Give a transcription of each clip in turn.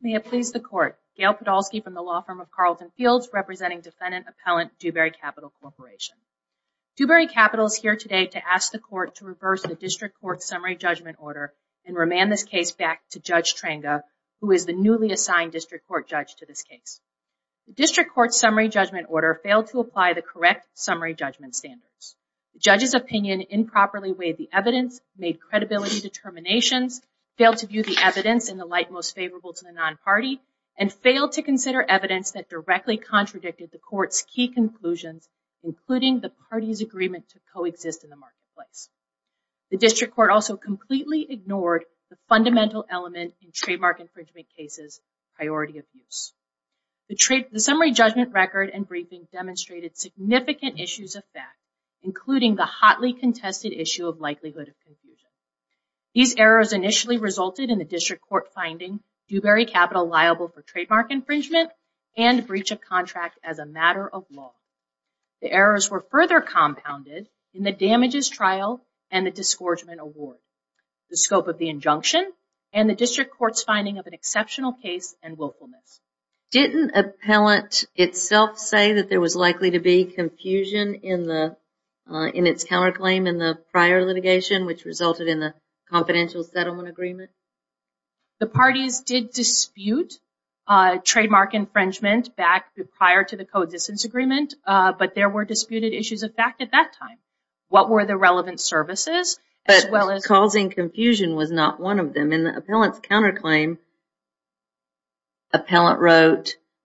May it please the Court, Gail Podolsky from the law firm of Carleton Fields, representing Defendant Appellant Dewberry Capital Corporation. Dewberry Capital is here today to ask the Court to reverse the District Court Summary Judgment Order and remand this case back to Judge Tranga, who is the newly assigned District Court Judge to this case. The District Court Summary Judgment Order failed to apply the correct summary judgment standards. The Judge's opinion improperly weighed the evidence, made credibility determinations, failed to view the evidence in the light most favorable to the non-party, and failed to consider evidence that directly contradicted the Court's key conclusions, including the party's agreement to coexist in the marketplace. The District Court also completely ignored the fundamental element in trademark infringement cases' priority of use. The summary judgment record and briefing demonstrated significant issues of fact, including the hotly contested issue of likelihood of confusion. These errors initially resulted in the District Court finding Dewberry Capital liable for trademark infringement and breach of contract as a matter of law. The errors were further compounded in the damages trial and the disgorgement award, the scope of the injunction, and the District Court's finding of an exceptional case and willfulness. Didn't Appellant itself say that there was likely to be confusion in the in its counterclaim in the prior litigation which resulted in the confidential settlement agreement? The parties did dispute trademark infringement back prior to the coexistence agreement, but there were disputed issues of fact at that time. What were the relevant services? But causing confusion was not one of them. In the Appellant's case,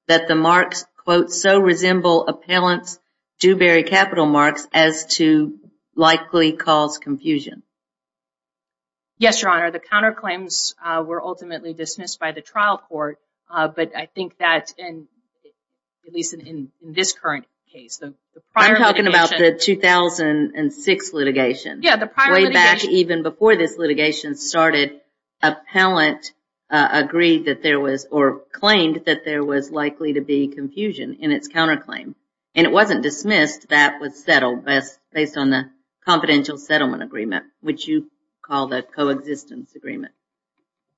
did it also resemble Appellant's Dewberry Capital marks as to likely cause confusion? Yes, Your Honor. The counterclaims were ultimately dismissed by the trial court, but I think that, at least in this current case... I'm talking about the 2006 litigation. Yeah, the prior litigation. Way back even before this litigation started, Appellant agreed that there was or claimed that there was likely to be confusion in its counterclaim, and it wasn't dismissed. That was settled based on the confidential settlement agreement, which you call the coexistence agreement.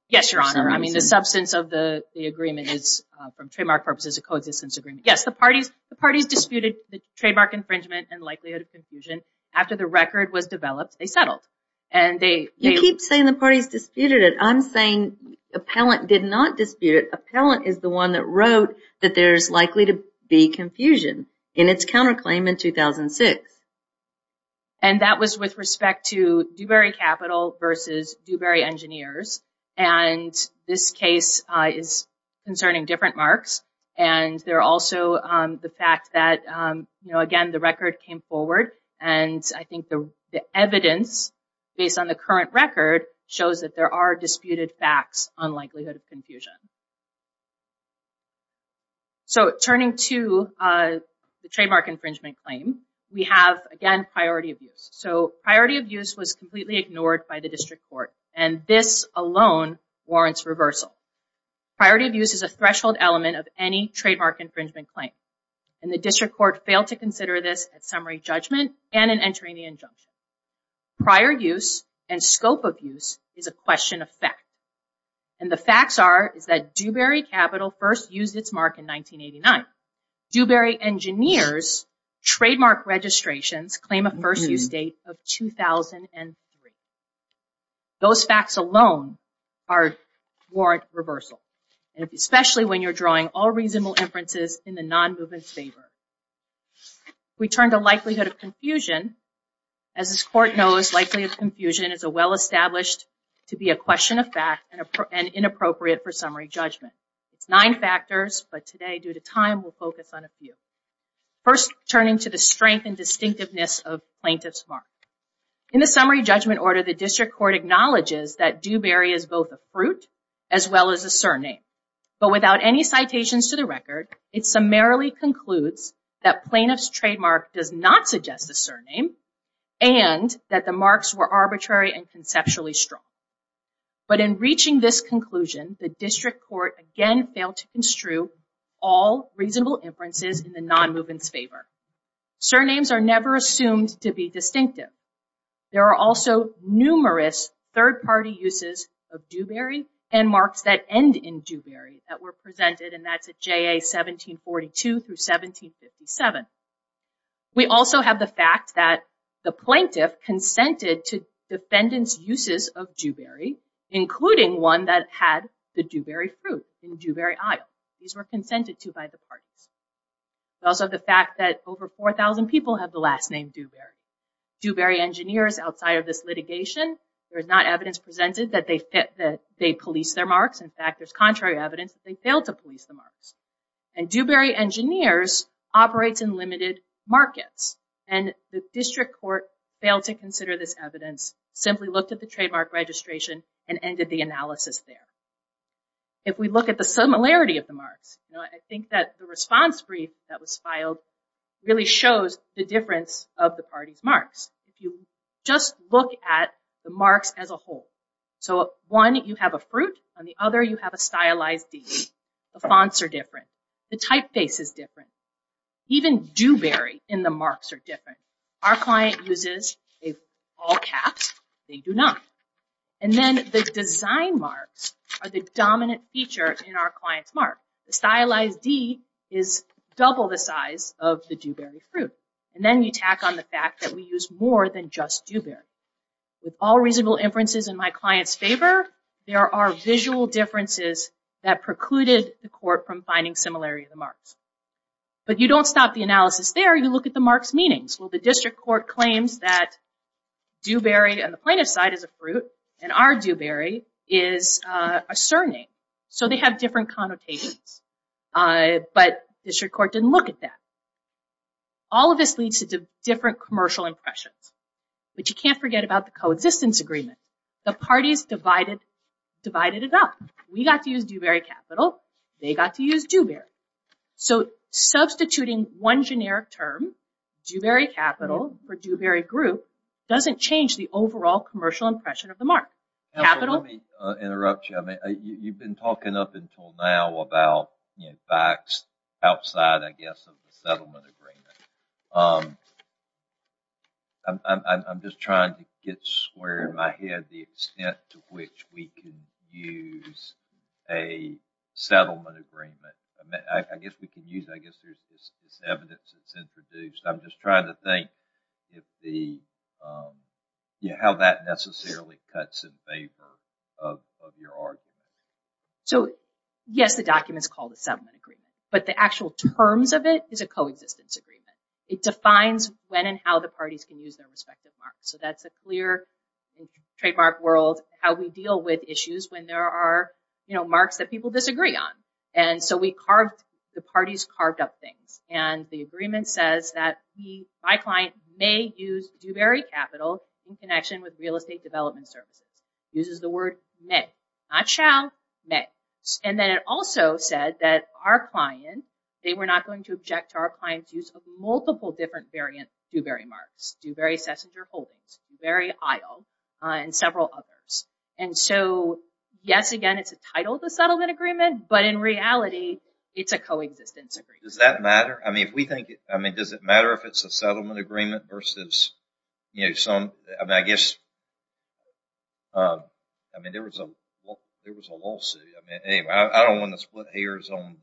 Yes, Your Honor. I mean, the substance of the agreement is from trademark purposes a coexistence agreement. Yes, the parties disputed the trademark infringement and likelihood of confusion. After the record was developed, they settled. You keep saying the Appellant did not dispute it. Appellant is the one that wrote that there's likely to be confusion in its counterclaim in 2006. And that was with respect to Dewberry Capital versus Dewberry Engineers, and this case is concerning different marks, and there also the fact that, you know, again, the record came forward, and I think the evidence, based on the current record, shows that there are disputed facts on likelihood of confusion. So, turning to the trademark infringement claim, we have, again, priority of use. So, priority of use was completely ignored by the district court, and this alone warrants reversal. Priority of use is a threshold element of any trademark infringement claim, and the district court failed to consider this at summary judgment and in entering the injunction. Prior use and scope of use is a question of fact, and the facts are is that Dewberry Capital first used its mark in 1989. Dewberry Engineers' trademark registrations claim a first use date of 2003. Those facts alone warrant reversal, especially when you're drawing all reasonable inferences in the non-movement's favor. We turn to likelihood of confusion. As this court knows, likelihood of confusion is a well-established to be a question of fact and inappropriate for summary judgment. It's nine factors, but today, due to time, we'll focus on a few. First, turning to the strength and distinctiveness of plaintiff's mark. In the summary judgment order, the district court acknowledges that Dewberry is both a fruit as well as a surname, but without any citations to the case, it summarily concludes that plaintiff's trademark does not suggest a surname and that the marks were arbitrary and conceptually strong. But in reaching this conclusion, the district court again failed to construe all reasonable inferences in the non-movement's favor. Surnames are never assumed to be distinctive. There are also numerous third-party uses of Dewberry and marks that end in 1742 through 1757. We also have the fact that the plaintiff consented to defendant's uses of Dewberry, including one that had the Dewberry fruit in Dewberry Isle. These were consented to by the parties. We also have the fact that over 4,000 people have the last name Dewberry. Dewberry engineers outside of this litigation, there is not evidence presented that they police their marks. In fact, there's contrary evidence that they failed to police the marks. Dewberry engineers operate in limited markets, and the district court failed to consider this evidence, simply looked at the trademark registration, and ended the analysis there. If we look at the similarity of the marks, I think that the response brief that was filed really shows the difference of the party's marks. If you just look at the marks as a whole, so one you have a fruit, on the other you have a stylized D. The fonts are different, the typeface is different, even Dewberry in the marks are different. Our client uses all caps, they do not, and then the design marks are the dominant feature in our client's mark. The stylized D is double the size of the Dewberry fruit, and then you tack on the fact that we use more than just Dewberry. With all reasonable inferences in my client's favor, there are visual differences that precluded the court from finding similarity of the marks. But you don't stop the analysis there, you look at the marks' meanings. Well, the district court claims that Dewberry on the plaintiff's side is a fruit, and our Dewberry is a surname, so they have different connotations, but district court didn't look at that. All of this leads to different commercial impressions, but you can't forget about the coexistence agreement. The parties divided divided it up. We got to use Dewberry Capital, they got to use Dewberry. So, substituting one generic term, Dewberry Capital, for Dewberry Group, doesn't change the overall commercial impression of the mark. Let me interrupt you, you've been talking up until now about facts outside, I guess, of the settlement agreement. I'm just trying to get square in my head the extent to which we can use a settlement agreement. I mean, I guess we can use, I guess there's this evidence that's introduced. I'm just trying to think how that necessarily cuts in favor of your argument. So, yes, the document is called a settlement agreement, but the actual terms of it is a coexistence agreement. It defines when and how the parties can use their respective marks. So, that's a clear trademark world, how we deal with issues when there are, you know, marks that people disagree on. And so, we carved, the parties carved up things, and the agreement says that my client may use Dewberry Capital in connection with real estate development services. Uses the word may, not shall, may. And then it also said that our client, they were not going to object to our client's use of multiple different variant Dewberry marks. Dewberry Sessinger Holdings, Dewberry Isle, and several others. And so, yes, again, it's a title of the settlement agreement, but in reality, it's a coexistence agreement. Does that matter? I mean, if we think, I mean, does it matter if it's a settlement agreement versus, you know, some, I mean, I guess, I mean, there was a, there was a lawsuit. I mean, anyway, I don't want to split hairs on,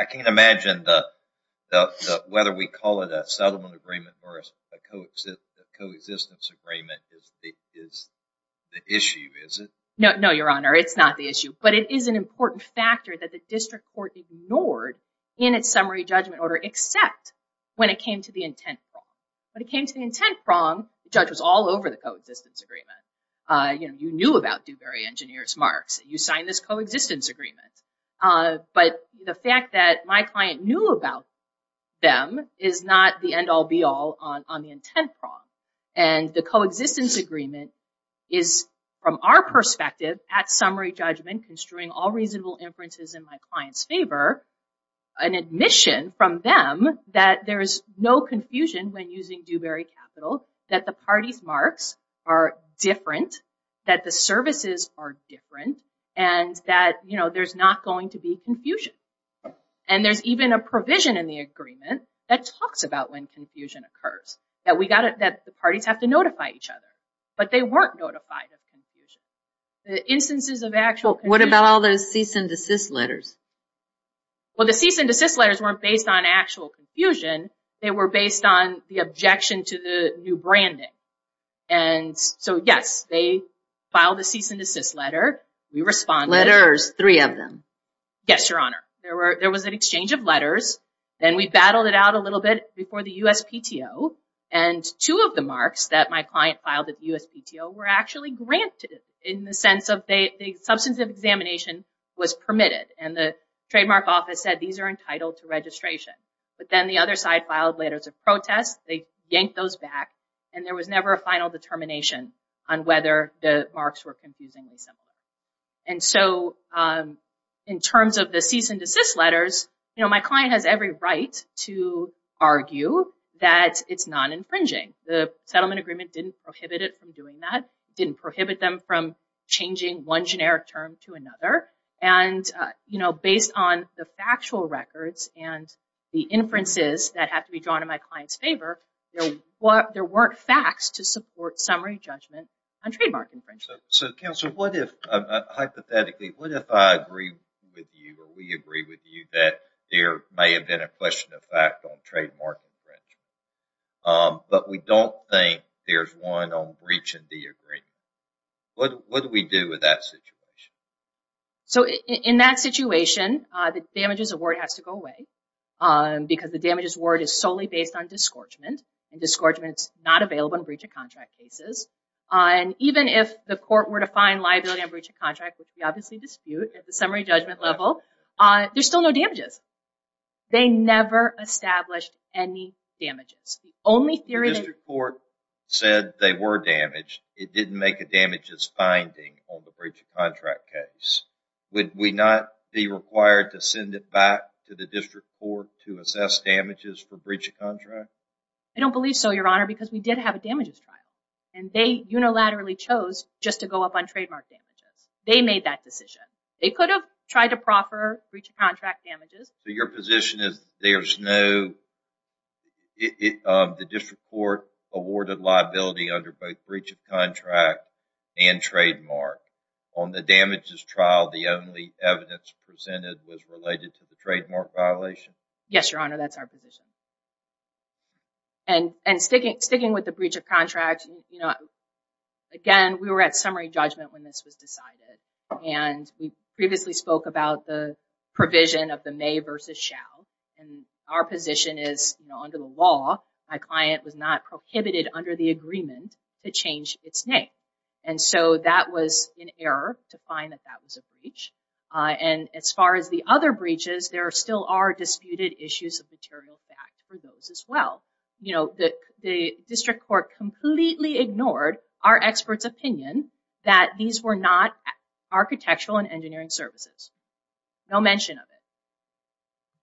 I can't imagine the, whether we call it a settlement agreement versus a coexistence agreement is the issue, is it? No, no, your honor, it's not the issue. But it is an important factor that the district court ignored in its summary judgment order, except when it came to the intent prong. When it came to the intent prong, the judge was all over the coexistence agreement. You know, you knew about Dewberry engineers marks, you signed this coexistence agreement. But the fact that my client knew about them is not the end all be all on the intent prong. And the coexistence agreement is, from our perspective, at summary judgment, construing all reasonable inferences in my an admission from them, that there is no confusion when using Dewberry capital, that the parties marks are different, that the services are different, and that, you know, there's not going to be confusion. And there's even a provision in the agreement that talks about when confusion occurs, that we got it, that the parties have to notify each other, but they weren't notified of confusion. The instances of actual. What about all those cease and desist letters? Well, the cease and desist letters weren't based on actual confusion. They were based on the objection to the new branding. And so, yes, they filed a cease and desist letter. We responded. Letters, three of them. Yes, Your Honor. There was an exchange of letters. Then we battled it out a little bit before the USPTO. And two of the marks that my client filed at the USPTO were actually granted in the sense of the substance of examination was permitted. And the trademark office said these are entitled to registration. But then the other side filed letters of protest. They yanked those back. And there was never a final determination on whether the marks were confusingly similar. And so, in terms of the cease and desist letters, you know, my client has every right to argue that it's non-infringing. The settlement agreement didn't prohibit it from doing that, didn't prohibit them from changing one generic term to another. And, you know, based on the factual records and the inferences that have to be drawn in my client's favor, there weren't facts to support summary judgment on trademark infringement. So, Counselor, what if, hypothetically, what if I agree with you or we agree with you that there may have been a question of fact on What do we do with that situation? So, in that situation, the damages award has to go away because the damages award is solely based on disgorgement. And disgorgement is not available in breach of contract cases. And even if the court were to find liability on breach of contract, which we obviously dispute at the summary judgment level, there's still no damages. They never established any damages. The only theory... The district court said they were damaged. It didn't make a damages finding on the breach of contract case. Would we not be required to send it back to the district court to assess damages for breach of contract? I don't believe so, Your Honor, because we did have a damages trial. And they unilaterally chose just to go up on trademark damages. They made that decision. They could have tried to proffer breach of contract damages. So, your position is there's no... The district court awarded liability under breach of contract and trademark. On the damages trial, the only evidence presented was related to the trademark violation? Yes, Your Honor. That's our position. And sticking with the breach of contract, you know, again, we were at summary judgment when this was decided. And we previously spoke about the provision of the may versus shall. And our position is, you know, under the law, my client was not prohibited under the agreement to change its name. And so, that was an error to find that that was a breach. And as far as the other breaches, there still are disputed issues of material fact for those as well. You know, the district court completely ignored our experts' opinion that these were not breaches.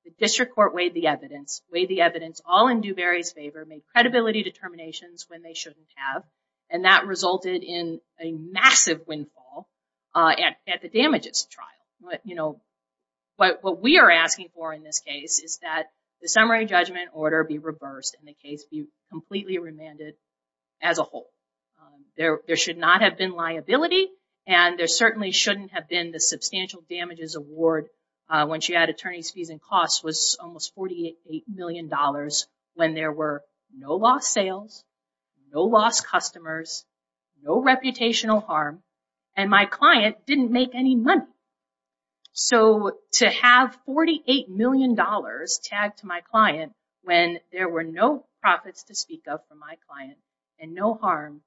The district court weighed the evidence. Weighed the evidence all in Dewberry's favor. Made credibility determinations when they shouldn't have. And that resulted in a massive windfall at the damages trial. You know, what we are asking for in this case is that the summary judgment order be reversed and the case be completely remanded as a whole. There should not have been liability. And there certainly shouldn't have been the substantial damages award when she had attorney's fees and costs was almost $48 million when there were no lost sales, no lost customers, no reputational harm, and my client didn't make any money. So, to have $48 million tagged to my client when there were no profits to speak of for my client and no harm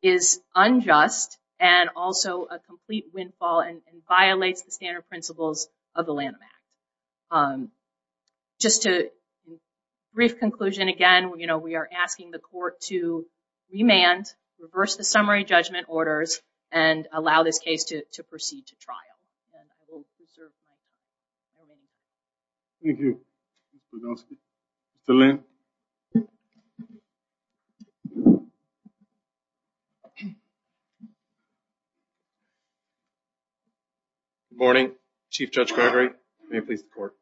is unjust and also a complete windfall and violates the standard principles of the Lanham Act. Just a brief conclusion again, you know, we are asking the court to remand, reverse the summary judgment orders, and allow this case to proceed to trial. And I will reserve my time. Thank you. Mr. Linn. Good morning, Chief Judge Gregory. May it please the court.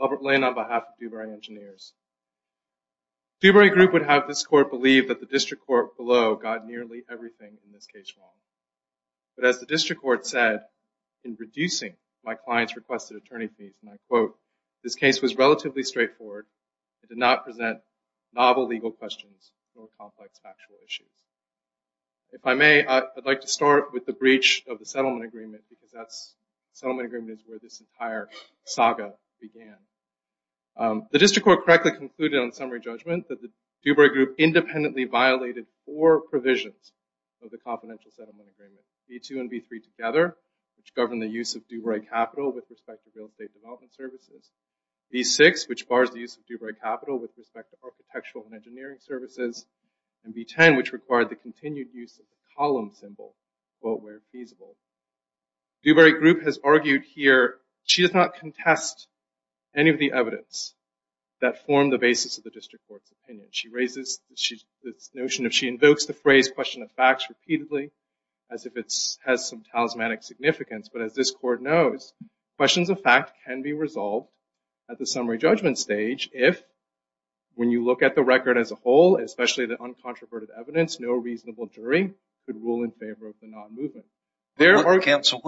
Albert Linn on behalf of Dewberry Engineers. Dewberry Group would have this court believe that the district court below got nearly everything in this case wrong. But as the district court said, in reducing my client's requested attorney fees, and I quote, this case was relatively straightforward. It did not present novel legal questions or complex factual issues. If I may, I'd like to start with the breach of the settlement agreement because that's, the settlement agreement is where this entire saga began. The district court correctly concluded on summary judgment that the of the confidential settlement agreement, B2 and B3 together, which govern the use of Dewberry Capital with respect to real estate development services. B6, which bars the use of Dewberry Capital with respect to architectural and engineering services. And B10, which required the continued use of the column symbol, quote, where feasible. Dewberry Group has argued here, she does not contest any of the evidence that formed the basis of the district court's opinion. She raises this notion of she invokes the phrase question of facts repeatedly as if it has some talismanic significance. But as this court knows, questions of fact can be resolved at the summary judgment stage if, when you look at the record as a whole, especially the uncontroverted evidence, no reasonable jury could rule in favor of the non-movement. There are- Counsel,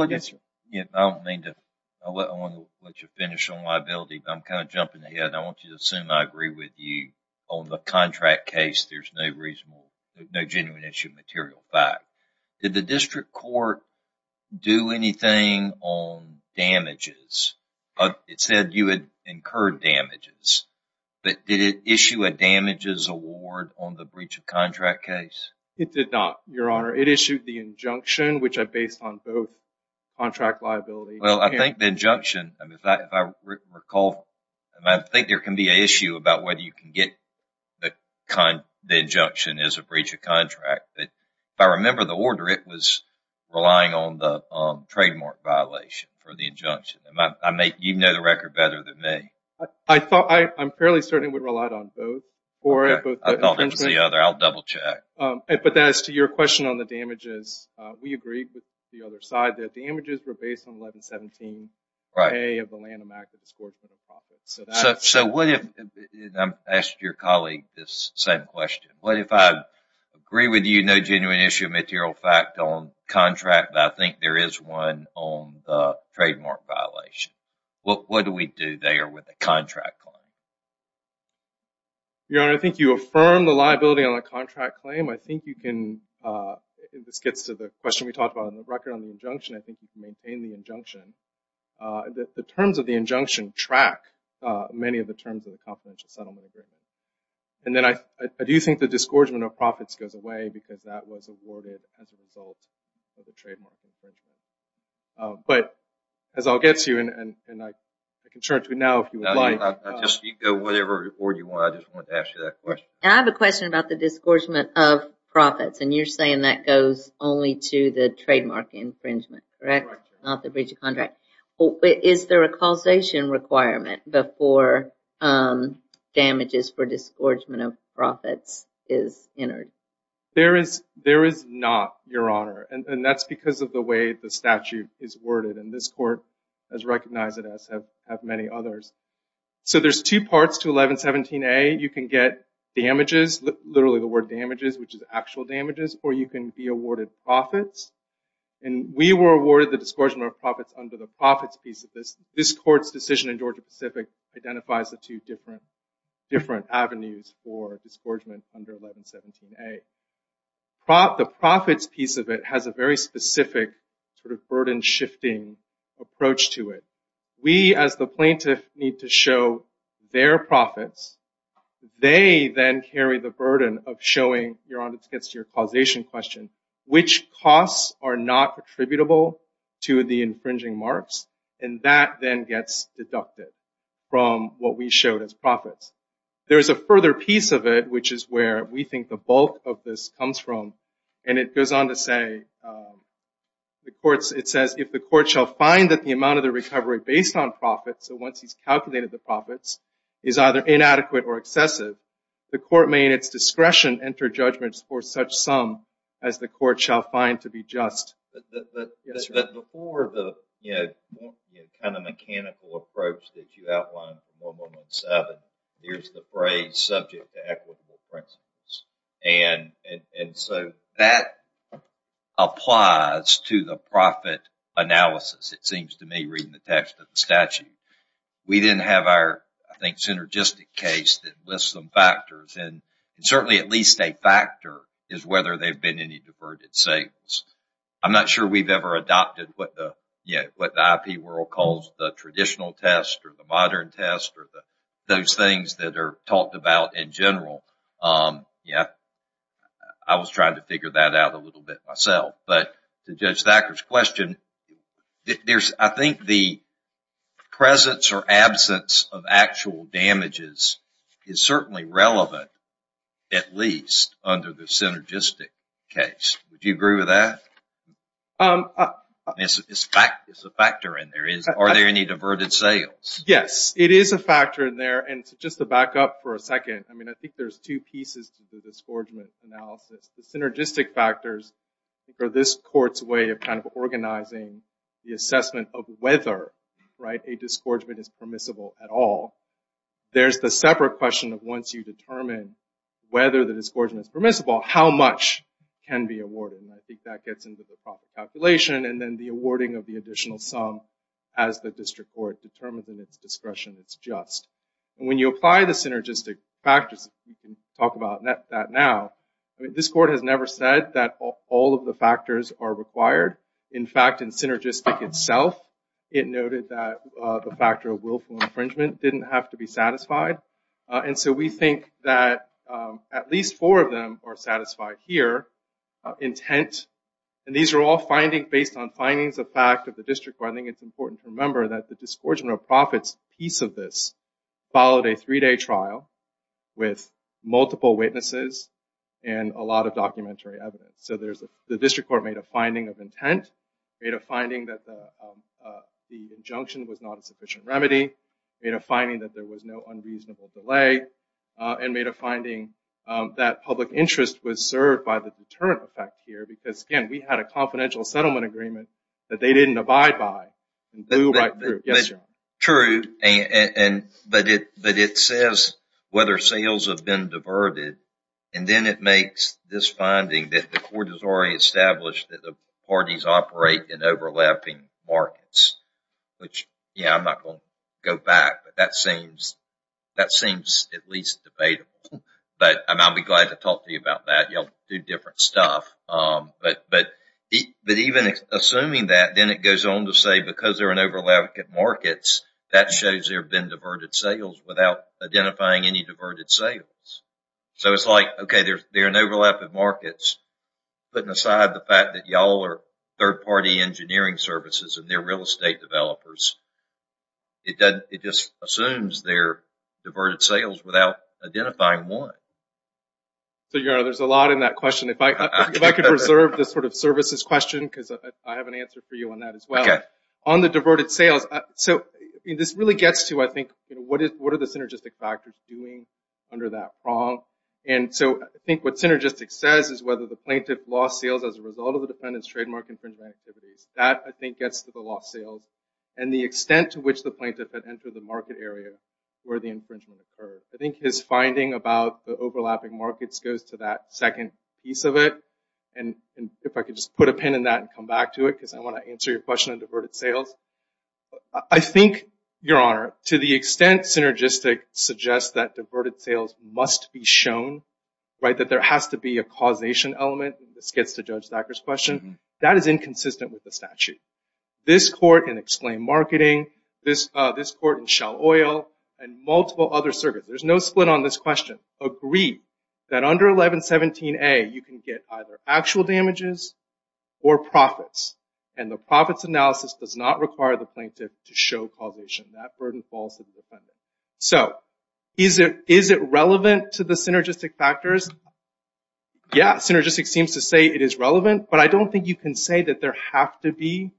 I want to let you finish on liability. I'm kind of jumping ahead. I want you to assume I agree with you on the contract case. There's no reasonable, no genuine issue of material fact. Did the district court do anything on damages? It said you had incurred damages, but did it issue a damages award on the breach of contract case? It did not, your honor. It issued the injunction, which I based on both contract liability- I think the injunction, if I recall, I think there can be an issue about whether you can get the injunction as a breach of contract. If I remember the order, it was relying on the trademark violation for the injunction. You know the record better than me. I thought, I'm fairly certain it would rely on both. Okay, I thought it was the other. I'll double check. But as to your question on the damages, we agreed with the other side that the damages were based on 1117A of the Lanham Act that was scored for the profit. So, what if- I'm asking your colleague this same question. What if I agree with you, no genuine issue of material fact on contract, but I think there is one on the trademark violation? What do we do there with the contract claim? Your honor, I think you affirm the liability on the contract claim. I think you can- this gets to the question we talked about on the record on the injunction. I think you can maintain the injunction. The terms of the injunction track many of the terms of the confidential settlement agreement. And then I do think the disgorgement of profits goes away because that was awarded as a result of the trademark infringement. But as I'll get to you, and I can turn it to you now if you would like. I'll just speak to whatever report you want. I just wanted to ask you that question. I have a question about the disgorgement of profits. And you're saying that goes only to the trademark infringement, correct? Not the breach of contract. Is there a causation requirement before damages for disgorgement of profits is entered? There is not, your honor. And that's because of the way the statute is worded. And this court has recognized it as have many others. So there's two parts to 1117A. You can get damages, literally the word damages, which is actual damages, or you can be awarded profits. And we were awarded the disgorgement of profits under the profits piece of this. This court's decision in Georgia Pacific identifies the two different avenues for disgorgement under 1117A. But the profits piece of it has a very specific sort of burden shifting approach to it. We as the plaintiff need to show their profits. They then carry the burden of showing, your honor, this gets to your causation question, which costs are not attributable to the infringing marks. And that then gets deducted from what we showed as profits. There's a further piece of it, which is where we think the bulk of this comes from. And it goes on to say, the courts, it says, if the court shall find that the amount of the recovery based on profits, so once he's calculated the profits, is either inadequate or excessive, the court may, in its discretion, enter judgments for such sum as the court shall find to be just. But before the kind of mechanical approach that you outlined for 1117, here's the phrase to equitable principles. And so that applies to the profit analysis, it seems to me, reading the text of the statute. We then have our, I think, synergistic case that lists some factors, and certainly at least a factor is whether they've been any diverted savings. I'm not sure we've ever adopted what the IP world calls the traditional test or the modern test or those things that are talked about in general. I was trying to figure that out a little bit myself. But to Judge Thacker's question, I think the presence or absence of actual damages is certainly relevant, at least under the synergistic case. Would you agree with that? It's a factor in there. Are there any diverted sales? Yes, it is a factor in there. And just to back up for a second, I mean, I think there's two pieces to the disgorgement analysis. The synergistic factors are this court's way of kind of organizing the assessment of whether a disgorgement is permissible at all. There's the separate question of once you determine whether the disgorgement is permissible, how much can be awarded? And I think that gets into the profit calculation and then the awarding of the additional sum as the district court determines in its discretion it's just. And when you apply the synergistic factors, you can talk about that now. I mean, this court has never said that all of the factors are required. In fact, in synergistic itself, it noted that the factor of willful infringement didn't have to be satisfied. And so we think that at least four of them are satisfied here. Intent, and these are all findings based on findings of fact of the district. I think it's important to remember that the disgorgement of profits piece of this followed a three-day trial with multiple witnesses and a lot of documentary evidence. So there's the district court made a finding of intent, made a finding that the injunction was not a sufficient remedy, made a finding that there was no unreasonable delay, and made a finding that public interest was served by the deterrent effect here because, again, we had a confidential settlement agreement that they didn't abide by and blew right through. True, but it says whether sales have been diverted and then it makes this finding that the court has already established that the parties operate in that seems at least debatable. But I'll be glad to talk to you about that. Y'all do different stuff. But even assuming that, then it goes on to say because they're in overlap at markets, that shows there have been diverted sales without identifying any diverted sales. So it's like, okay, they're in overlap at markets, putting aside the fact that y'all are third-party engineering services and they're real estate developers. It just assumes they're diverted sales without identifying one. So, Your Honor, there's a lot in that question. If I could reserve this sort of services question because I have an answer for you on that as well. Okay. On the diverted sales, so this really gets to, I think, what are the synergistic factors doing under that prong? And so I think what synergistic says is whether the plaintiff lost sales as a result of the lost sales and the extent to which the plaintiff had entered the market area where the infringement occurred. I think his finding about the overlapping markets goes to that second piece of it. And if I could just put a pin in that and come back to it, because I want to answer your question on diverted sales. I think, Your Honor, to the extent synergistic suggests that diverted sales must be shown, right, that there has to be a causation element, this gets to Judge Thacker's question, that is inconsistent with the statute. This court in Explain Marketing, this court in Shell Oil, and multiple other circuits, there's no split on this question, agree that under 1117A you can get either actual damages or profits. And the profits analysis does not require the plaintiff to show causation. That burden falls to the defendant. So, is it relevant to the synergistic factors? Yeah, synergistic seems to say it is relevant, but I don't think you can say that there have to be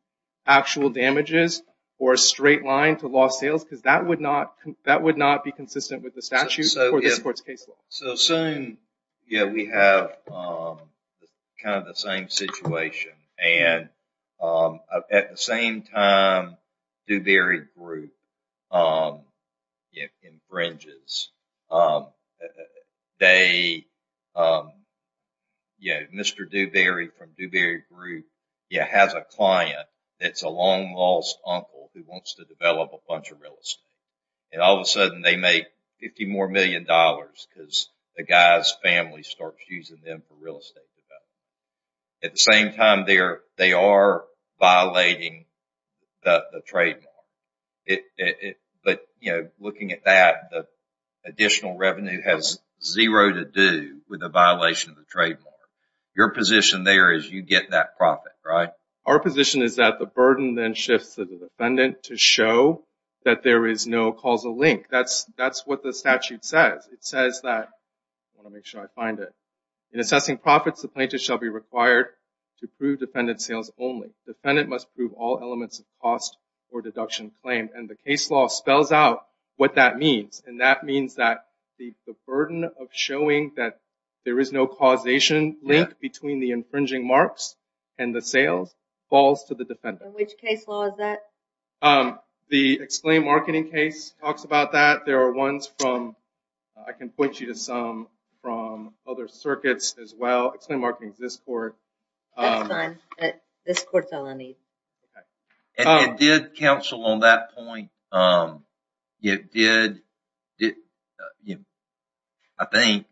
actual damages or a straight line to lost sales, because that would not be consistent with the statute or this court's case law. So, soon, yeah, we have kind of the same situation. At the same time, Dewberry Group infringes. Mr. Dewberry from Dewberry Group has a client that's a long-lost uncle who wants to develop a bunch of real estate. And all of a sudden they make 50 more million dollars because the guy's family starts using them for real estate development. At the same time, they are violating the trademark. But, you know, looking at that, the additional revenue has zero to do with the violation of the trademark. Your position there is you get that profit, right? Our position is that the burden then shifts to the defendant to show that there is no causal link. That's what the statute says. It says that, I want to make sure I find it, in assessing profits, the plaintiff shall be required to prove defendant sales only. Defendant must prove all elements of cost or deduction claim. And the case law spells out what that means. And that means that the burden of showing that there is no causation link between the infringing marks and the sales falls to the defendant. Which case law is that? The exclaimed marketing case talks about that. There are ones from, I can point you to some from other circuits as well. Exclaimed marketing is this court. That's fine. This court's all I need. And it did counsel on that point. It did, I think,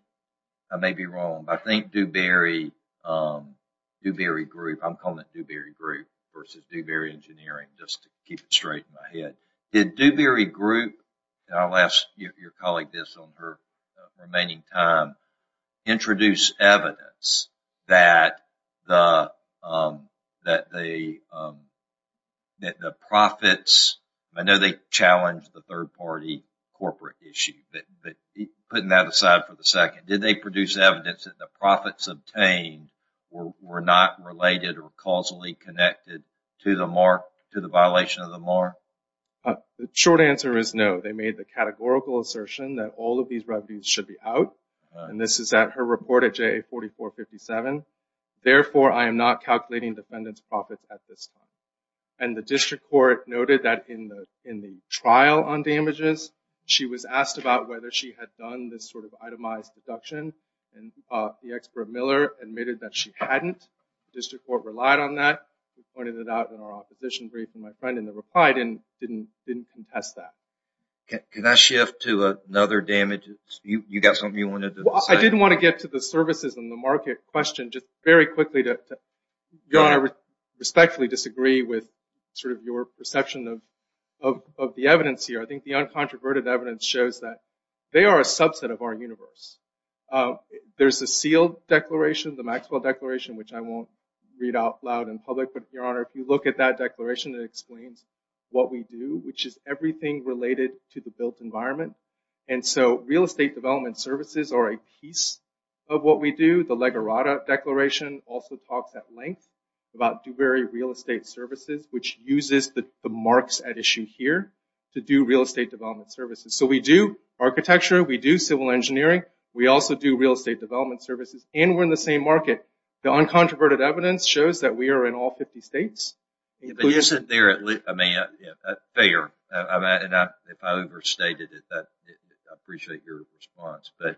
I may be wrong, but I think Dewberry Group, I'm calling it Dewberry Group versus Dewberry Engineering just to keep it straight in my head. Did Dewberry Group, and I'll ask your colleague this on her remaining time, introduce evidence that the profits, I know they challenged the third party corporate issue, putting that aside for the second. Did they produce evidence that the profits obtained were not related or causally connected to the violation of the mark? The short answer is no. They made the categorical assertion that all of these revenues should be out. And this is at her report at JA 4457. Therefore, I am not calculating defendant's profits at this time. And the district court noted that in the trial on damages, she was asked about whether she had done this sort of itemized deduction. And the expert Miller admitted that she hadn't. The district court relied on that. We pointed it out in our opposition brief, and my friend in the reply didn't contest that. Can I shift to another damage? You got something you wanted to say? I didn't want to get to the services and the market question. Just very quickly to respectfully disagree with sort of your perception of the evidence here. I think the uncontroverted evidence shows that they are a subset of our universe. There's a sealed declaration, the Maxwell Declaration, which I won't read out loud in public. But your honor, if you look at that declaration, it explains what we do, which is everything related to the built environment. And so real estate development services are a piece of what we do. The Legerata Declaration also talks at length about Dewberry Real Estate Services, which uses the marks at issue here to do real estate development services. So we do architecture, we do civil engineering, we also do real estate development services, and we're in the same market. The uncontroverted evidence shows that we are in all 50 states. You said there, I mean, that's fair. And if I overstated it, I appreciate your response. But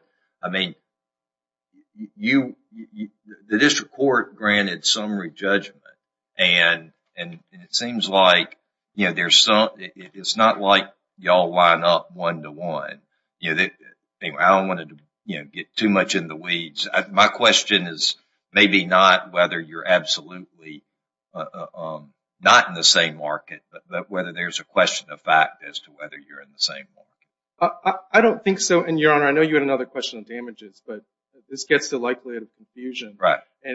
and it seems like, you know, there's some, it's not like y'all line up one to one. You know, I don't want to, you know, get too much in the weeds. My question is maybe not whether you're absolutely not in the same market, but whether there's a question of fact as to whether you're in the same market. I don't think so. And your honor, I know you had another question of damages, but this gets the likelihood of confusion.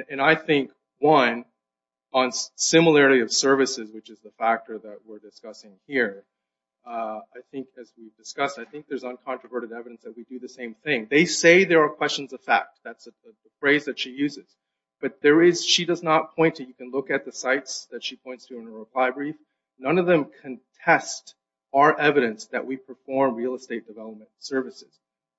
And I think, one, on similarity of services, which is the factor that we're discussing here, I think as we've discussed, I think there's uncontroverted evidence that we do the same thing. They say there are questions of fact. That's the phrase that she uses. But there is, she does not point to, you can look at the sites that she points to in her reply brief. None of them contest our evidence that we perform real estate development services.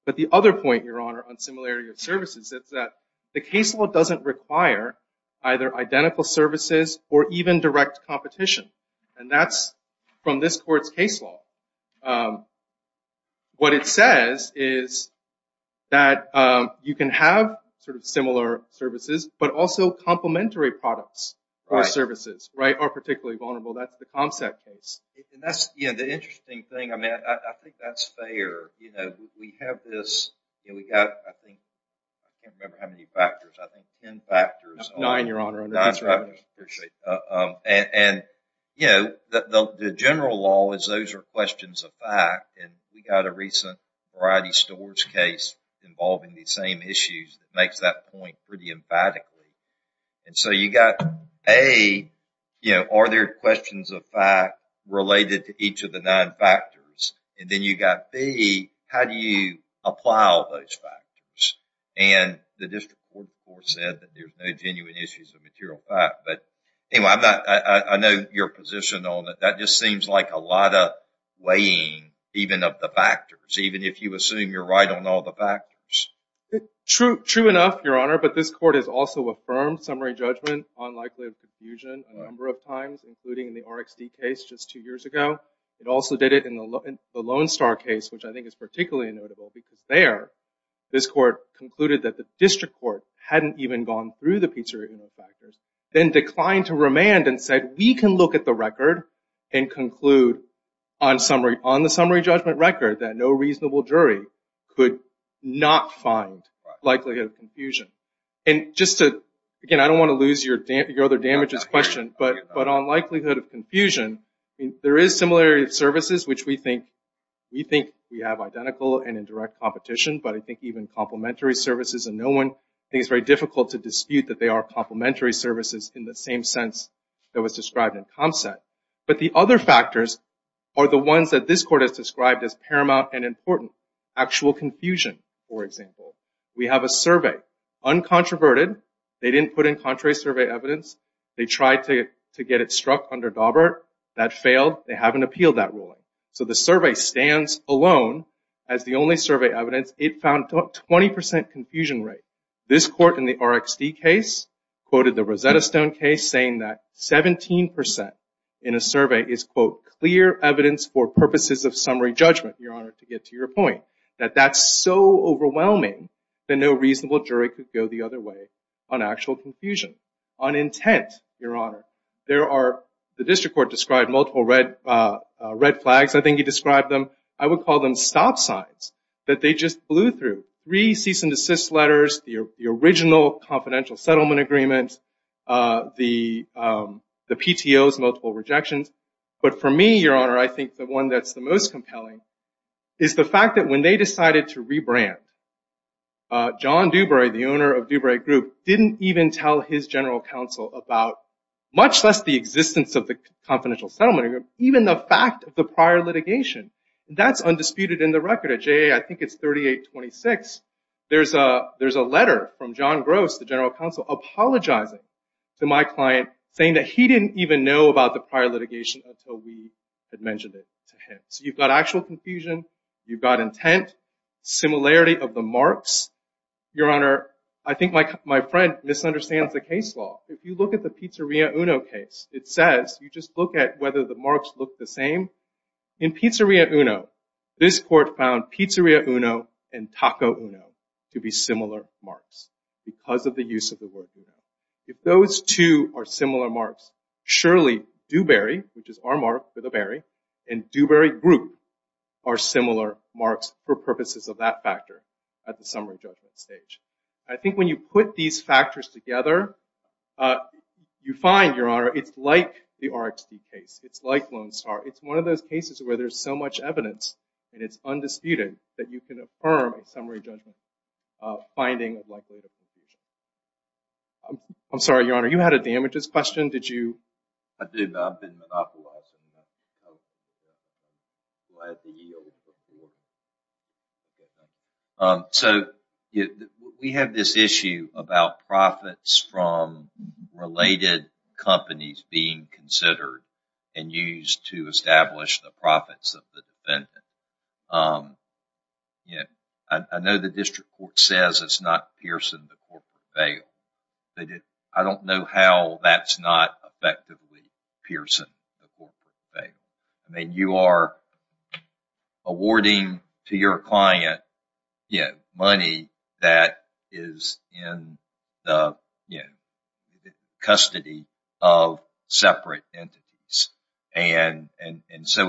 But the other point, your honor, on similarity of services is that the case law doesn't require either identical services or even direct competition. And that's from this court's case law. What it says is that you can have sort of similar services, but also complementary products or services, right, are particularly vulnerable. That's the ComSec case. And that's, the interesting thing, I mean, I think that's fair. You know, we have this, you know, we got, I think, I can't remember how many factors, I think 10 factors. Nine, your honor. And, you know, the general law is those are questions of fact. And we got a recent Variety Stores case involving these same issues that makes that point pretty emphatically. And so you got A, you know, are there questions of fact related to each of the nine factors? And then you got B, how do you apply all those factors? And the district court said that there's no genuine issues of material fact. But anyway, I'm not, I know your position on it. That just seems like a lot of weighing, even of the factors, even if you assume you're right on all the factors. True, true enough, your honor. But this court has also affirmed summary judgment, unlikely of confusion, a number of times, including the RxD case just two years ago. It also did it in the Lone Star case, which I think is particularly notable because there, this court concluded that the district court hadn't even gone through the pizzeria factors, then declined to remand and said, we can look at the record and conclude on summary, judgment record that no reasonable jury could not find likelihood of confusion. And just to, again, I don't want to lose your other damages question, but on likelihood of confusion, there is similarity of services, which we think we have identical and in direct competition, but I think even complementary services and no one, I think it's very difficult to dispute that they are complementary services in the same sense that was described in Comset. But the other factors are the ones that this court has described as paramount and important. Actual confusion, for example. We have a survey, uncontroverted. They didn't put in contrary survey evidence. They tried to get it struck under Daubert. That failed. They haven't appealed that ruling. So the survey stands alone as the only survey evidence. It found 20% confusion rate. This court in the RxD case quoted the Rosetta Stone case saying that 17% in a survey is, quote, clear evidence for purposes of summary judgment, Your Honor, to get to your point, that that's so overwhelming that no reasonable jury could go the other way on actual confusion. On intent, Your Honor, there are, the district court described multiple red flags. I think he described them. I would call them stop signs that they just blew through. Three cease and desist letters, the original confidential settlement agreement, the PTO's multiple rejections. But for me, Your Honor, I think the one that's the most compelling is the fact that when they decided to rebrand, John Dubre, the owner of Dubre Group, didn't even tell his general counsel about, much less the existence of the confidential settlement agreement, even the fact of the prior litigation. That's undisputed in the record. At JA, I think it's 3826, there's a letter from John Gross, the general counsel, apologizing to my client, saying that he didn't even know about the prior litigation until we had mentioned it to him. So you've got actual confusion, you've got intent, similarity of the marks. Your Honor, I think my friend misunderstands the case law. If you look at the Pizzeria Uno case, it says, you just look at whether the marks look the same. In Pizzeria Uno, this court found Pizzeria Uno and Taco Uno to be similar marks because of the use of the word Uno. If those two are similar marks, surely Dubre, which is our mark for the Berry, and Dubre Group are similar marks for purposes of that factor at the summary judgment stage. I think when you put these factors together, you find, Your Honor, it's like the RxD case. It's like Lone Star. It's one of those cases where there's so much evidence and it's undisputed that you can affirm a summary judgment finding of likelihood of confusion. I'm sorry, Your Honor, you had a damages question. Did you? I did. I've been monopolizing. So we have this issue about profits from related companies being considered and used to establish the profits of the defendant. I know the district court says it's not piercing the corporate veil. I don't know how that's not effectively piercing the corporate veil. I mean, you are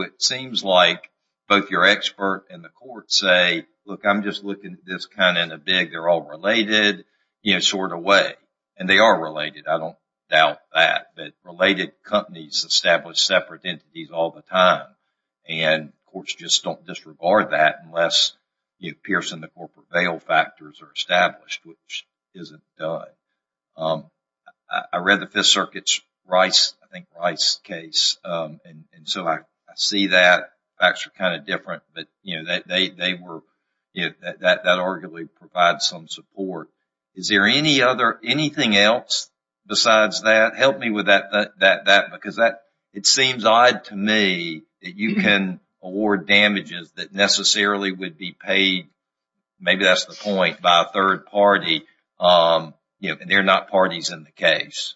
it seems like both your expert and the court say, look, I'm just looking at this kind in a big, they're all related, you know, sort of way. And they are related. I don't doubt that. But related companies establish separate entities all the time. And courts just don't disregard that unless piercing the corporate veil factors are established, which isn't done. I read the Fifth Circuit's Rice, I think, Rice case. And so I see that actually kind of different. But, you know, that arguably provides some support. Is there anything else besides that? Help me with that. Because it seems odd to me that you can award damages that necessarily would be not parties in the case.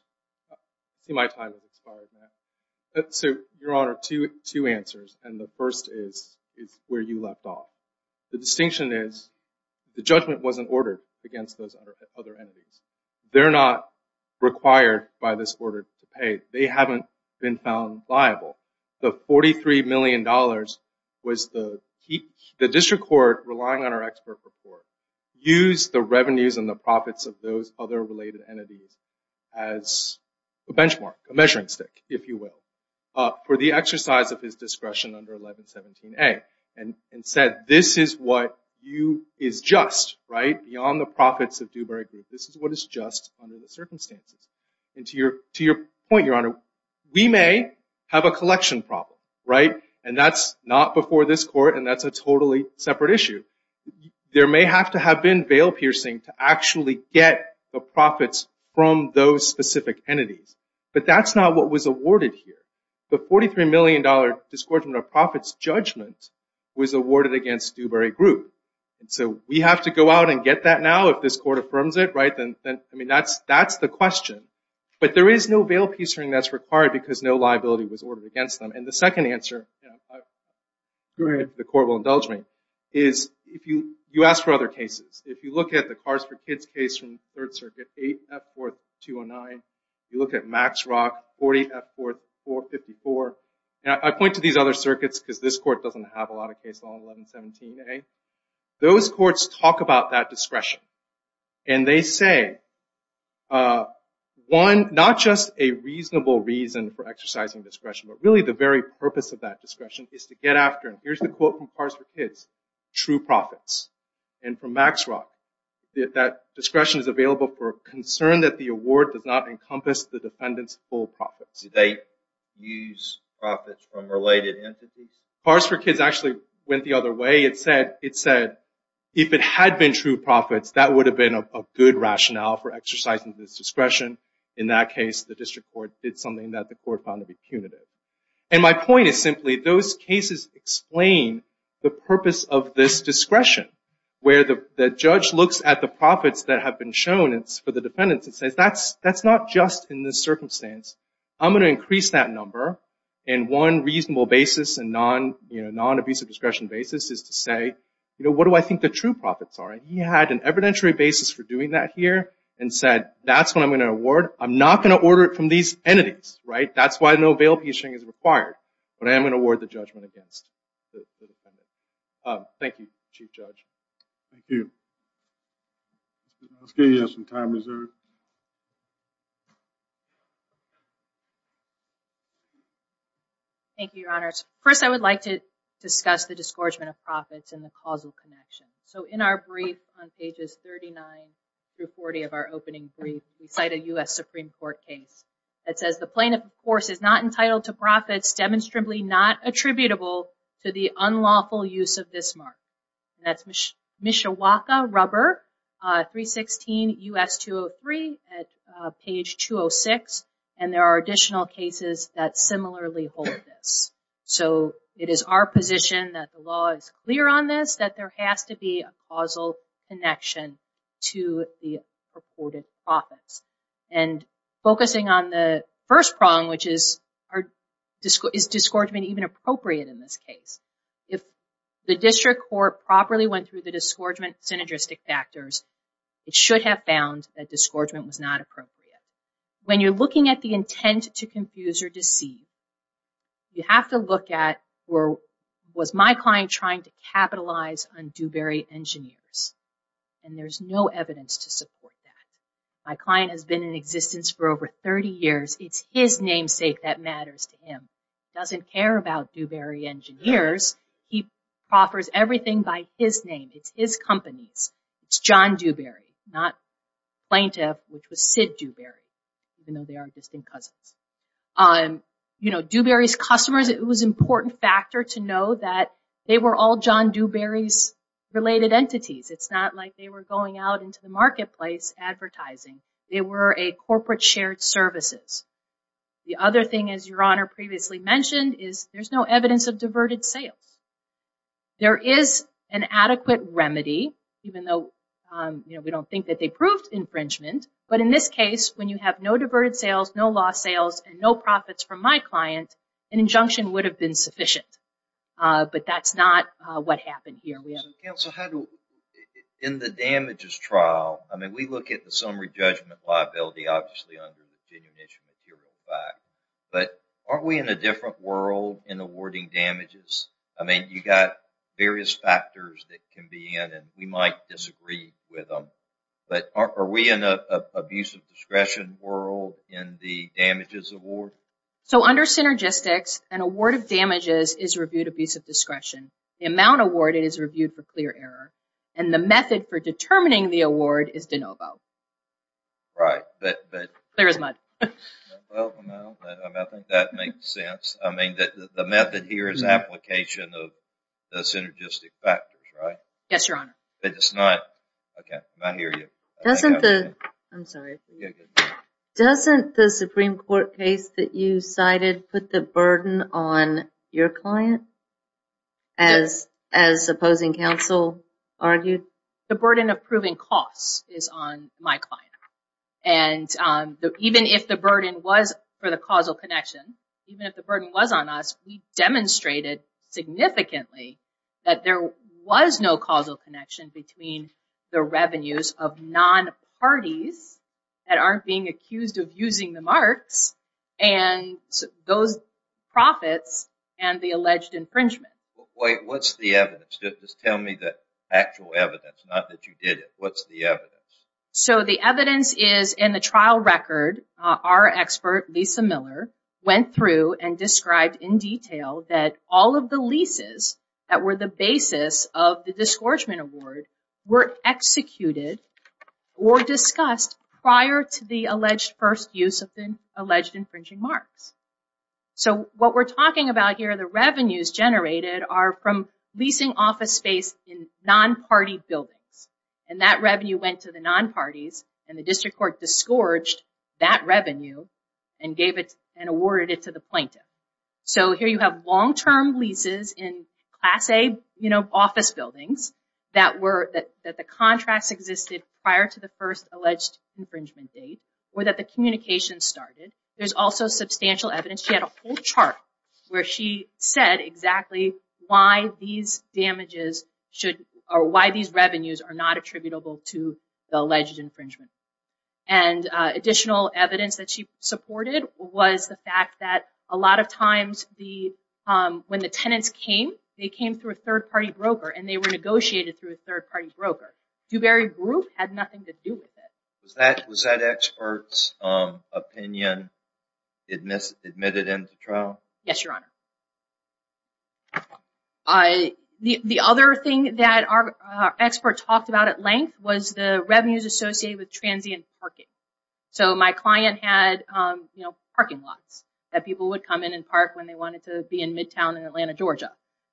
So, Your Honor, two answers. And the first is where you left off. The distinction is the judgment wasn't ordered against those other entities. They're not required by this order to pay. They haven't been found liable. The $43 million was the district court relying on our entities as a benchmark, a measuring stick, if you will, for the exercise of his discretion under 1117A. And said this is what you is just, right, beyond the profits of Dewberry Group. This is what is just under the circumstances. And to your point, Your Honor, we may have a collection problem, right? And that's not before this court. And that's a totally separate issue. There may have to have been veil-piercing to actually get the profits from those specific entities. But that's not what was awarded here. The $43 million disgorgement of profits judgment was awarded against Dewberry Group. And so we have to go out and get that now if this court affirms it, right? I mean, that's the question. But there is no veil-piercing that's required because no liability was ordered against them. And the second answer, and the court will indulge me, is you ask for other cases. If you look at the Cars for Kids case from Third Circuit, 8 F-4th 209. You look at Max Rock, 40 F-4th 454. And I point to these other circuits because this court doesn't have a lot of cases on 1117A. Those courts talk about that discretion. And they say, one, not just a reasonable reason for exercising discretion, but really the very purpose of that discretion is to get after, and here's the quote from Cars for Kids, true profits. And from Max Rock, that discretion is available for a concern that the award does not encompass the defendant's full profits. Did they use profits from related entities? Cars for Kids actually went the other way. It said, if it had been true profits, that would have been a good rationale for exercising this discretion. In that case, the district court did something that the court found to be punitive. And my point is simply, those cases explain the purpose of this discretion, where the judge looks at the profits that have been shown for the defendants and says, that's not just in this circumstance. I'm going to increase that number. And one reasonable basis and non-abusive discretion basis is to say, what do I think the true profits are? He had an evidentiary basis for doing that here and said, that's what I'm going to award. I'm not going to order it from these entities. That's why no bail piecing is required, but I am going to award the judgment against the defendant. Thank you, Chief Judge. Thank you. Thank you, Your Honors. First, I would like to discuss the disgorgement of profits and the causal connection. So, in our brief on pages 39 through 40 of our opening brief, we cite a U.S. Supreme Court case that says the plaintiff, of course, is not entitled to profits demonstrably not attributable to the unlawful use of this mark. That's Mishawaka rubber, 316 U.S. 203 at page 206. And there are additional cases that similarly hold this. So, it is our position that the law is clear on this, that there has to be a causal connection to the purported profits. And focusing on the first prong, which is, is disgorgement even appropriate in this case? If the district court properly went through the disgorgement synergistic factors, it should have found that disgorgement was not appropriate. When you're looking at the intent to confuse or deceive, you have to look at, was my client trying to capitalize on Dewberry Engineers? And there's no evidence to support that. My client has been in existence for over 30 years. It's his namesake that matters to him. Doesn't care about Dewberry Engineers. He proffers everything by his name. It's his companies. It's John Dewberry, not plaintiff, which was Sid Dewberry, even though they are distinct cousins. Dewberry's customers, it was an important factor to know that they were all John Dewberry's related entities. It's not like they were going out into the marketplace advertising. They were a corporate shared services. The other thing, as your honor previously mentioned, is there's no evidence of diverted sales. There is an adequate remedy, even though we don't think that they from my client, an injunction would have been sufficient. But that's not what happened here. In the damages trial, I mean, we look at the summary judgment liability, obviously, under the genuine issue material fact. But aren't we in a different world in awarding damages? I mean, you got various factors that can be in and we might disagree with them. But are we in abuse of discretion world in the damages award? So under synergistics, an award of damages is reviewed abuse of discretion. The amount awarded is reviewed for clear error. And the method for determining the award is de novo. Right. Clear as mud. Well, I think that makes sense. I mean, that the method here is application of synergistic factors, right? Yes, your honor. It's not OK. I hear you. I'm sorry. Doesn't the Supreme Court case that you cited put the burden on your client? As as opposing counsel argued, the burden of proving costs is on my client. And even if the burden was for the causal connection, even if the burden was on us, we demonstrated significantly that there was no causal connection between the revenues of non parties that aren't being accused of using the marks and those profits and the alleged infringement. What's the evidence? Just tell me the actual evidence, not that you did it. What's the evidence? So the evidence is in the trial record. Our expert, Lisa Miller, went through and described in detail that all of the leases that were the basis of the disgorgement award were executed or discussed prior to the alleged first use of the alleged infringing marks. So what we're talking about here, the revenues generated are from leasing office space in non-party buildings. And that revenue went to the non-parties. And the district court disgorged that revenue and awarded it to the plaintiff. So here you have long-term leases in class A office buildings that the contracts existed prior to the first alleged infringement date or that the communication started. There's also substantial evidence. She had a whole chart where she said exactly why these damages should or why these revenues are not attributable to the alleged infringement. And additional evidence that she supported was the fact that a lot of times when the tenants came, they came through a third-party broker and they were negotiated through a third-party broker. Dewberry Group had nothing to do with it. Was that expert's opinion admitted into trial? Yes, Your Honor. The other thing that our expert talked about at length was the revenues associated with transient parking. So my client had parking lots that people would come in and park when they wanted to be in midtown in Atlanta, Georgia.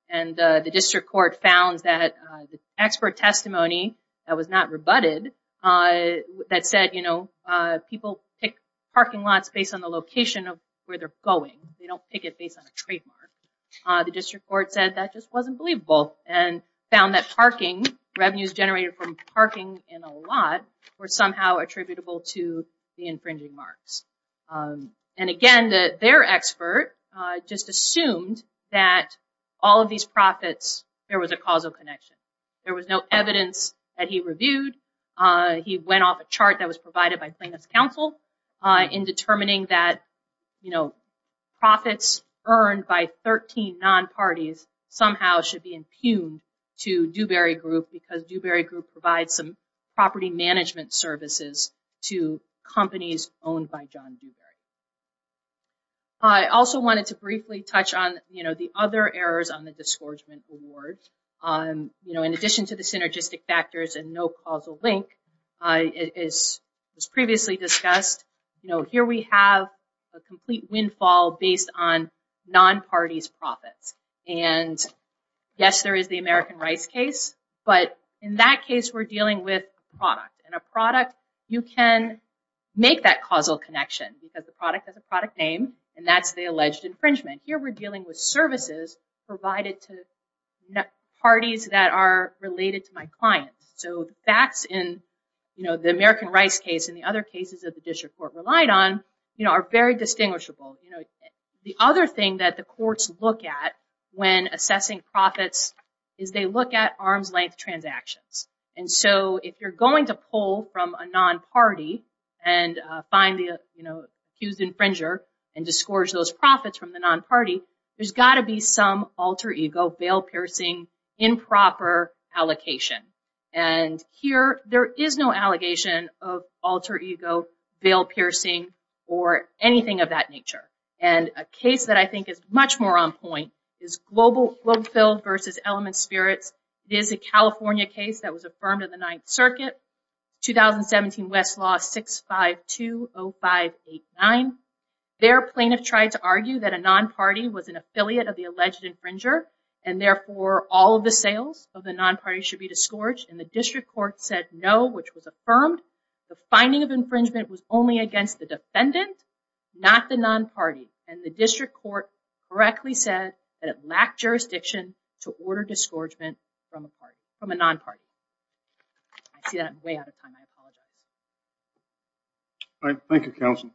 And the district court found that the expert testimony that was not rebutted that said, you know, people pick The district court said that just wasn't believable and found that parking, revenues generated from parking in a lot, were somehow attributable to the infringing marks. And again, their expert just assumed that all of these profits, there was a causal connection. There was no evidence that he reviewed. He went off a chart that was provided by plaintiff's counsel in determining that profits earned by 13 non-parties somehow should be impugned to Dewberry Group because Dewberry Group provides some property management services to companies owned by John Dewberry. I also wanted to briefly touch on the other errors on the disgorgement award. In addition to the synergistic factors and no causal link, as previously discussed, you know, here we have a complete windfall based on non-parties' profits. And yes, there is the American Rice case, but in that case, we're dealing with a product. And a product, you can make that causal connection because the product has a product name and that's the alleged infringement. Here, we're dealing with services provided to parties that are related to my client. So that's in, you know, the American Rice case and the other cases that the district court relied on, you know, are very distinguishable. The other thing that the courts look at when assessing profits is they look at arm's length transactions. And so, if you're going to pull from a non-party and find the, you know, accused infringer and disgorge those profits from the non-party, there's got to be some alter ego, bail piercing, improper allocation. And here, there is no allegation of alter ego, bail piercing, or anything of that nature. And a case that I think is much more on point is Global Field versus Element Spirits. It is a California case that was affirmed in the Ninth Circuit, 2017 Westlaw 6520589. Their plaintiff tried to argue that a non-party was an affiliate of the alleged infringer, and therefore, all of the sales of the court said no, which was affirmed. The finding of infringement was only against the defendant, not the non-party. And the district court correctly said that it lacked jurisdiction to order disgorgement from a party, from a non-party. I see that I'm way out of time. I apologize. All right. Thank you, counsel.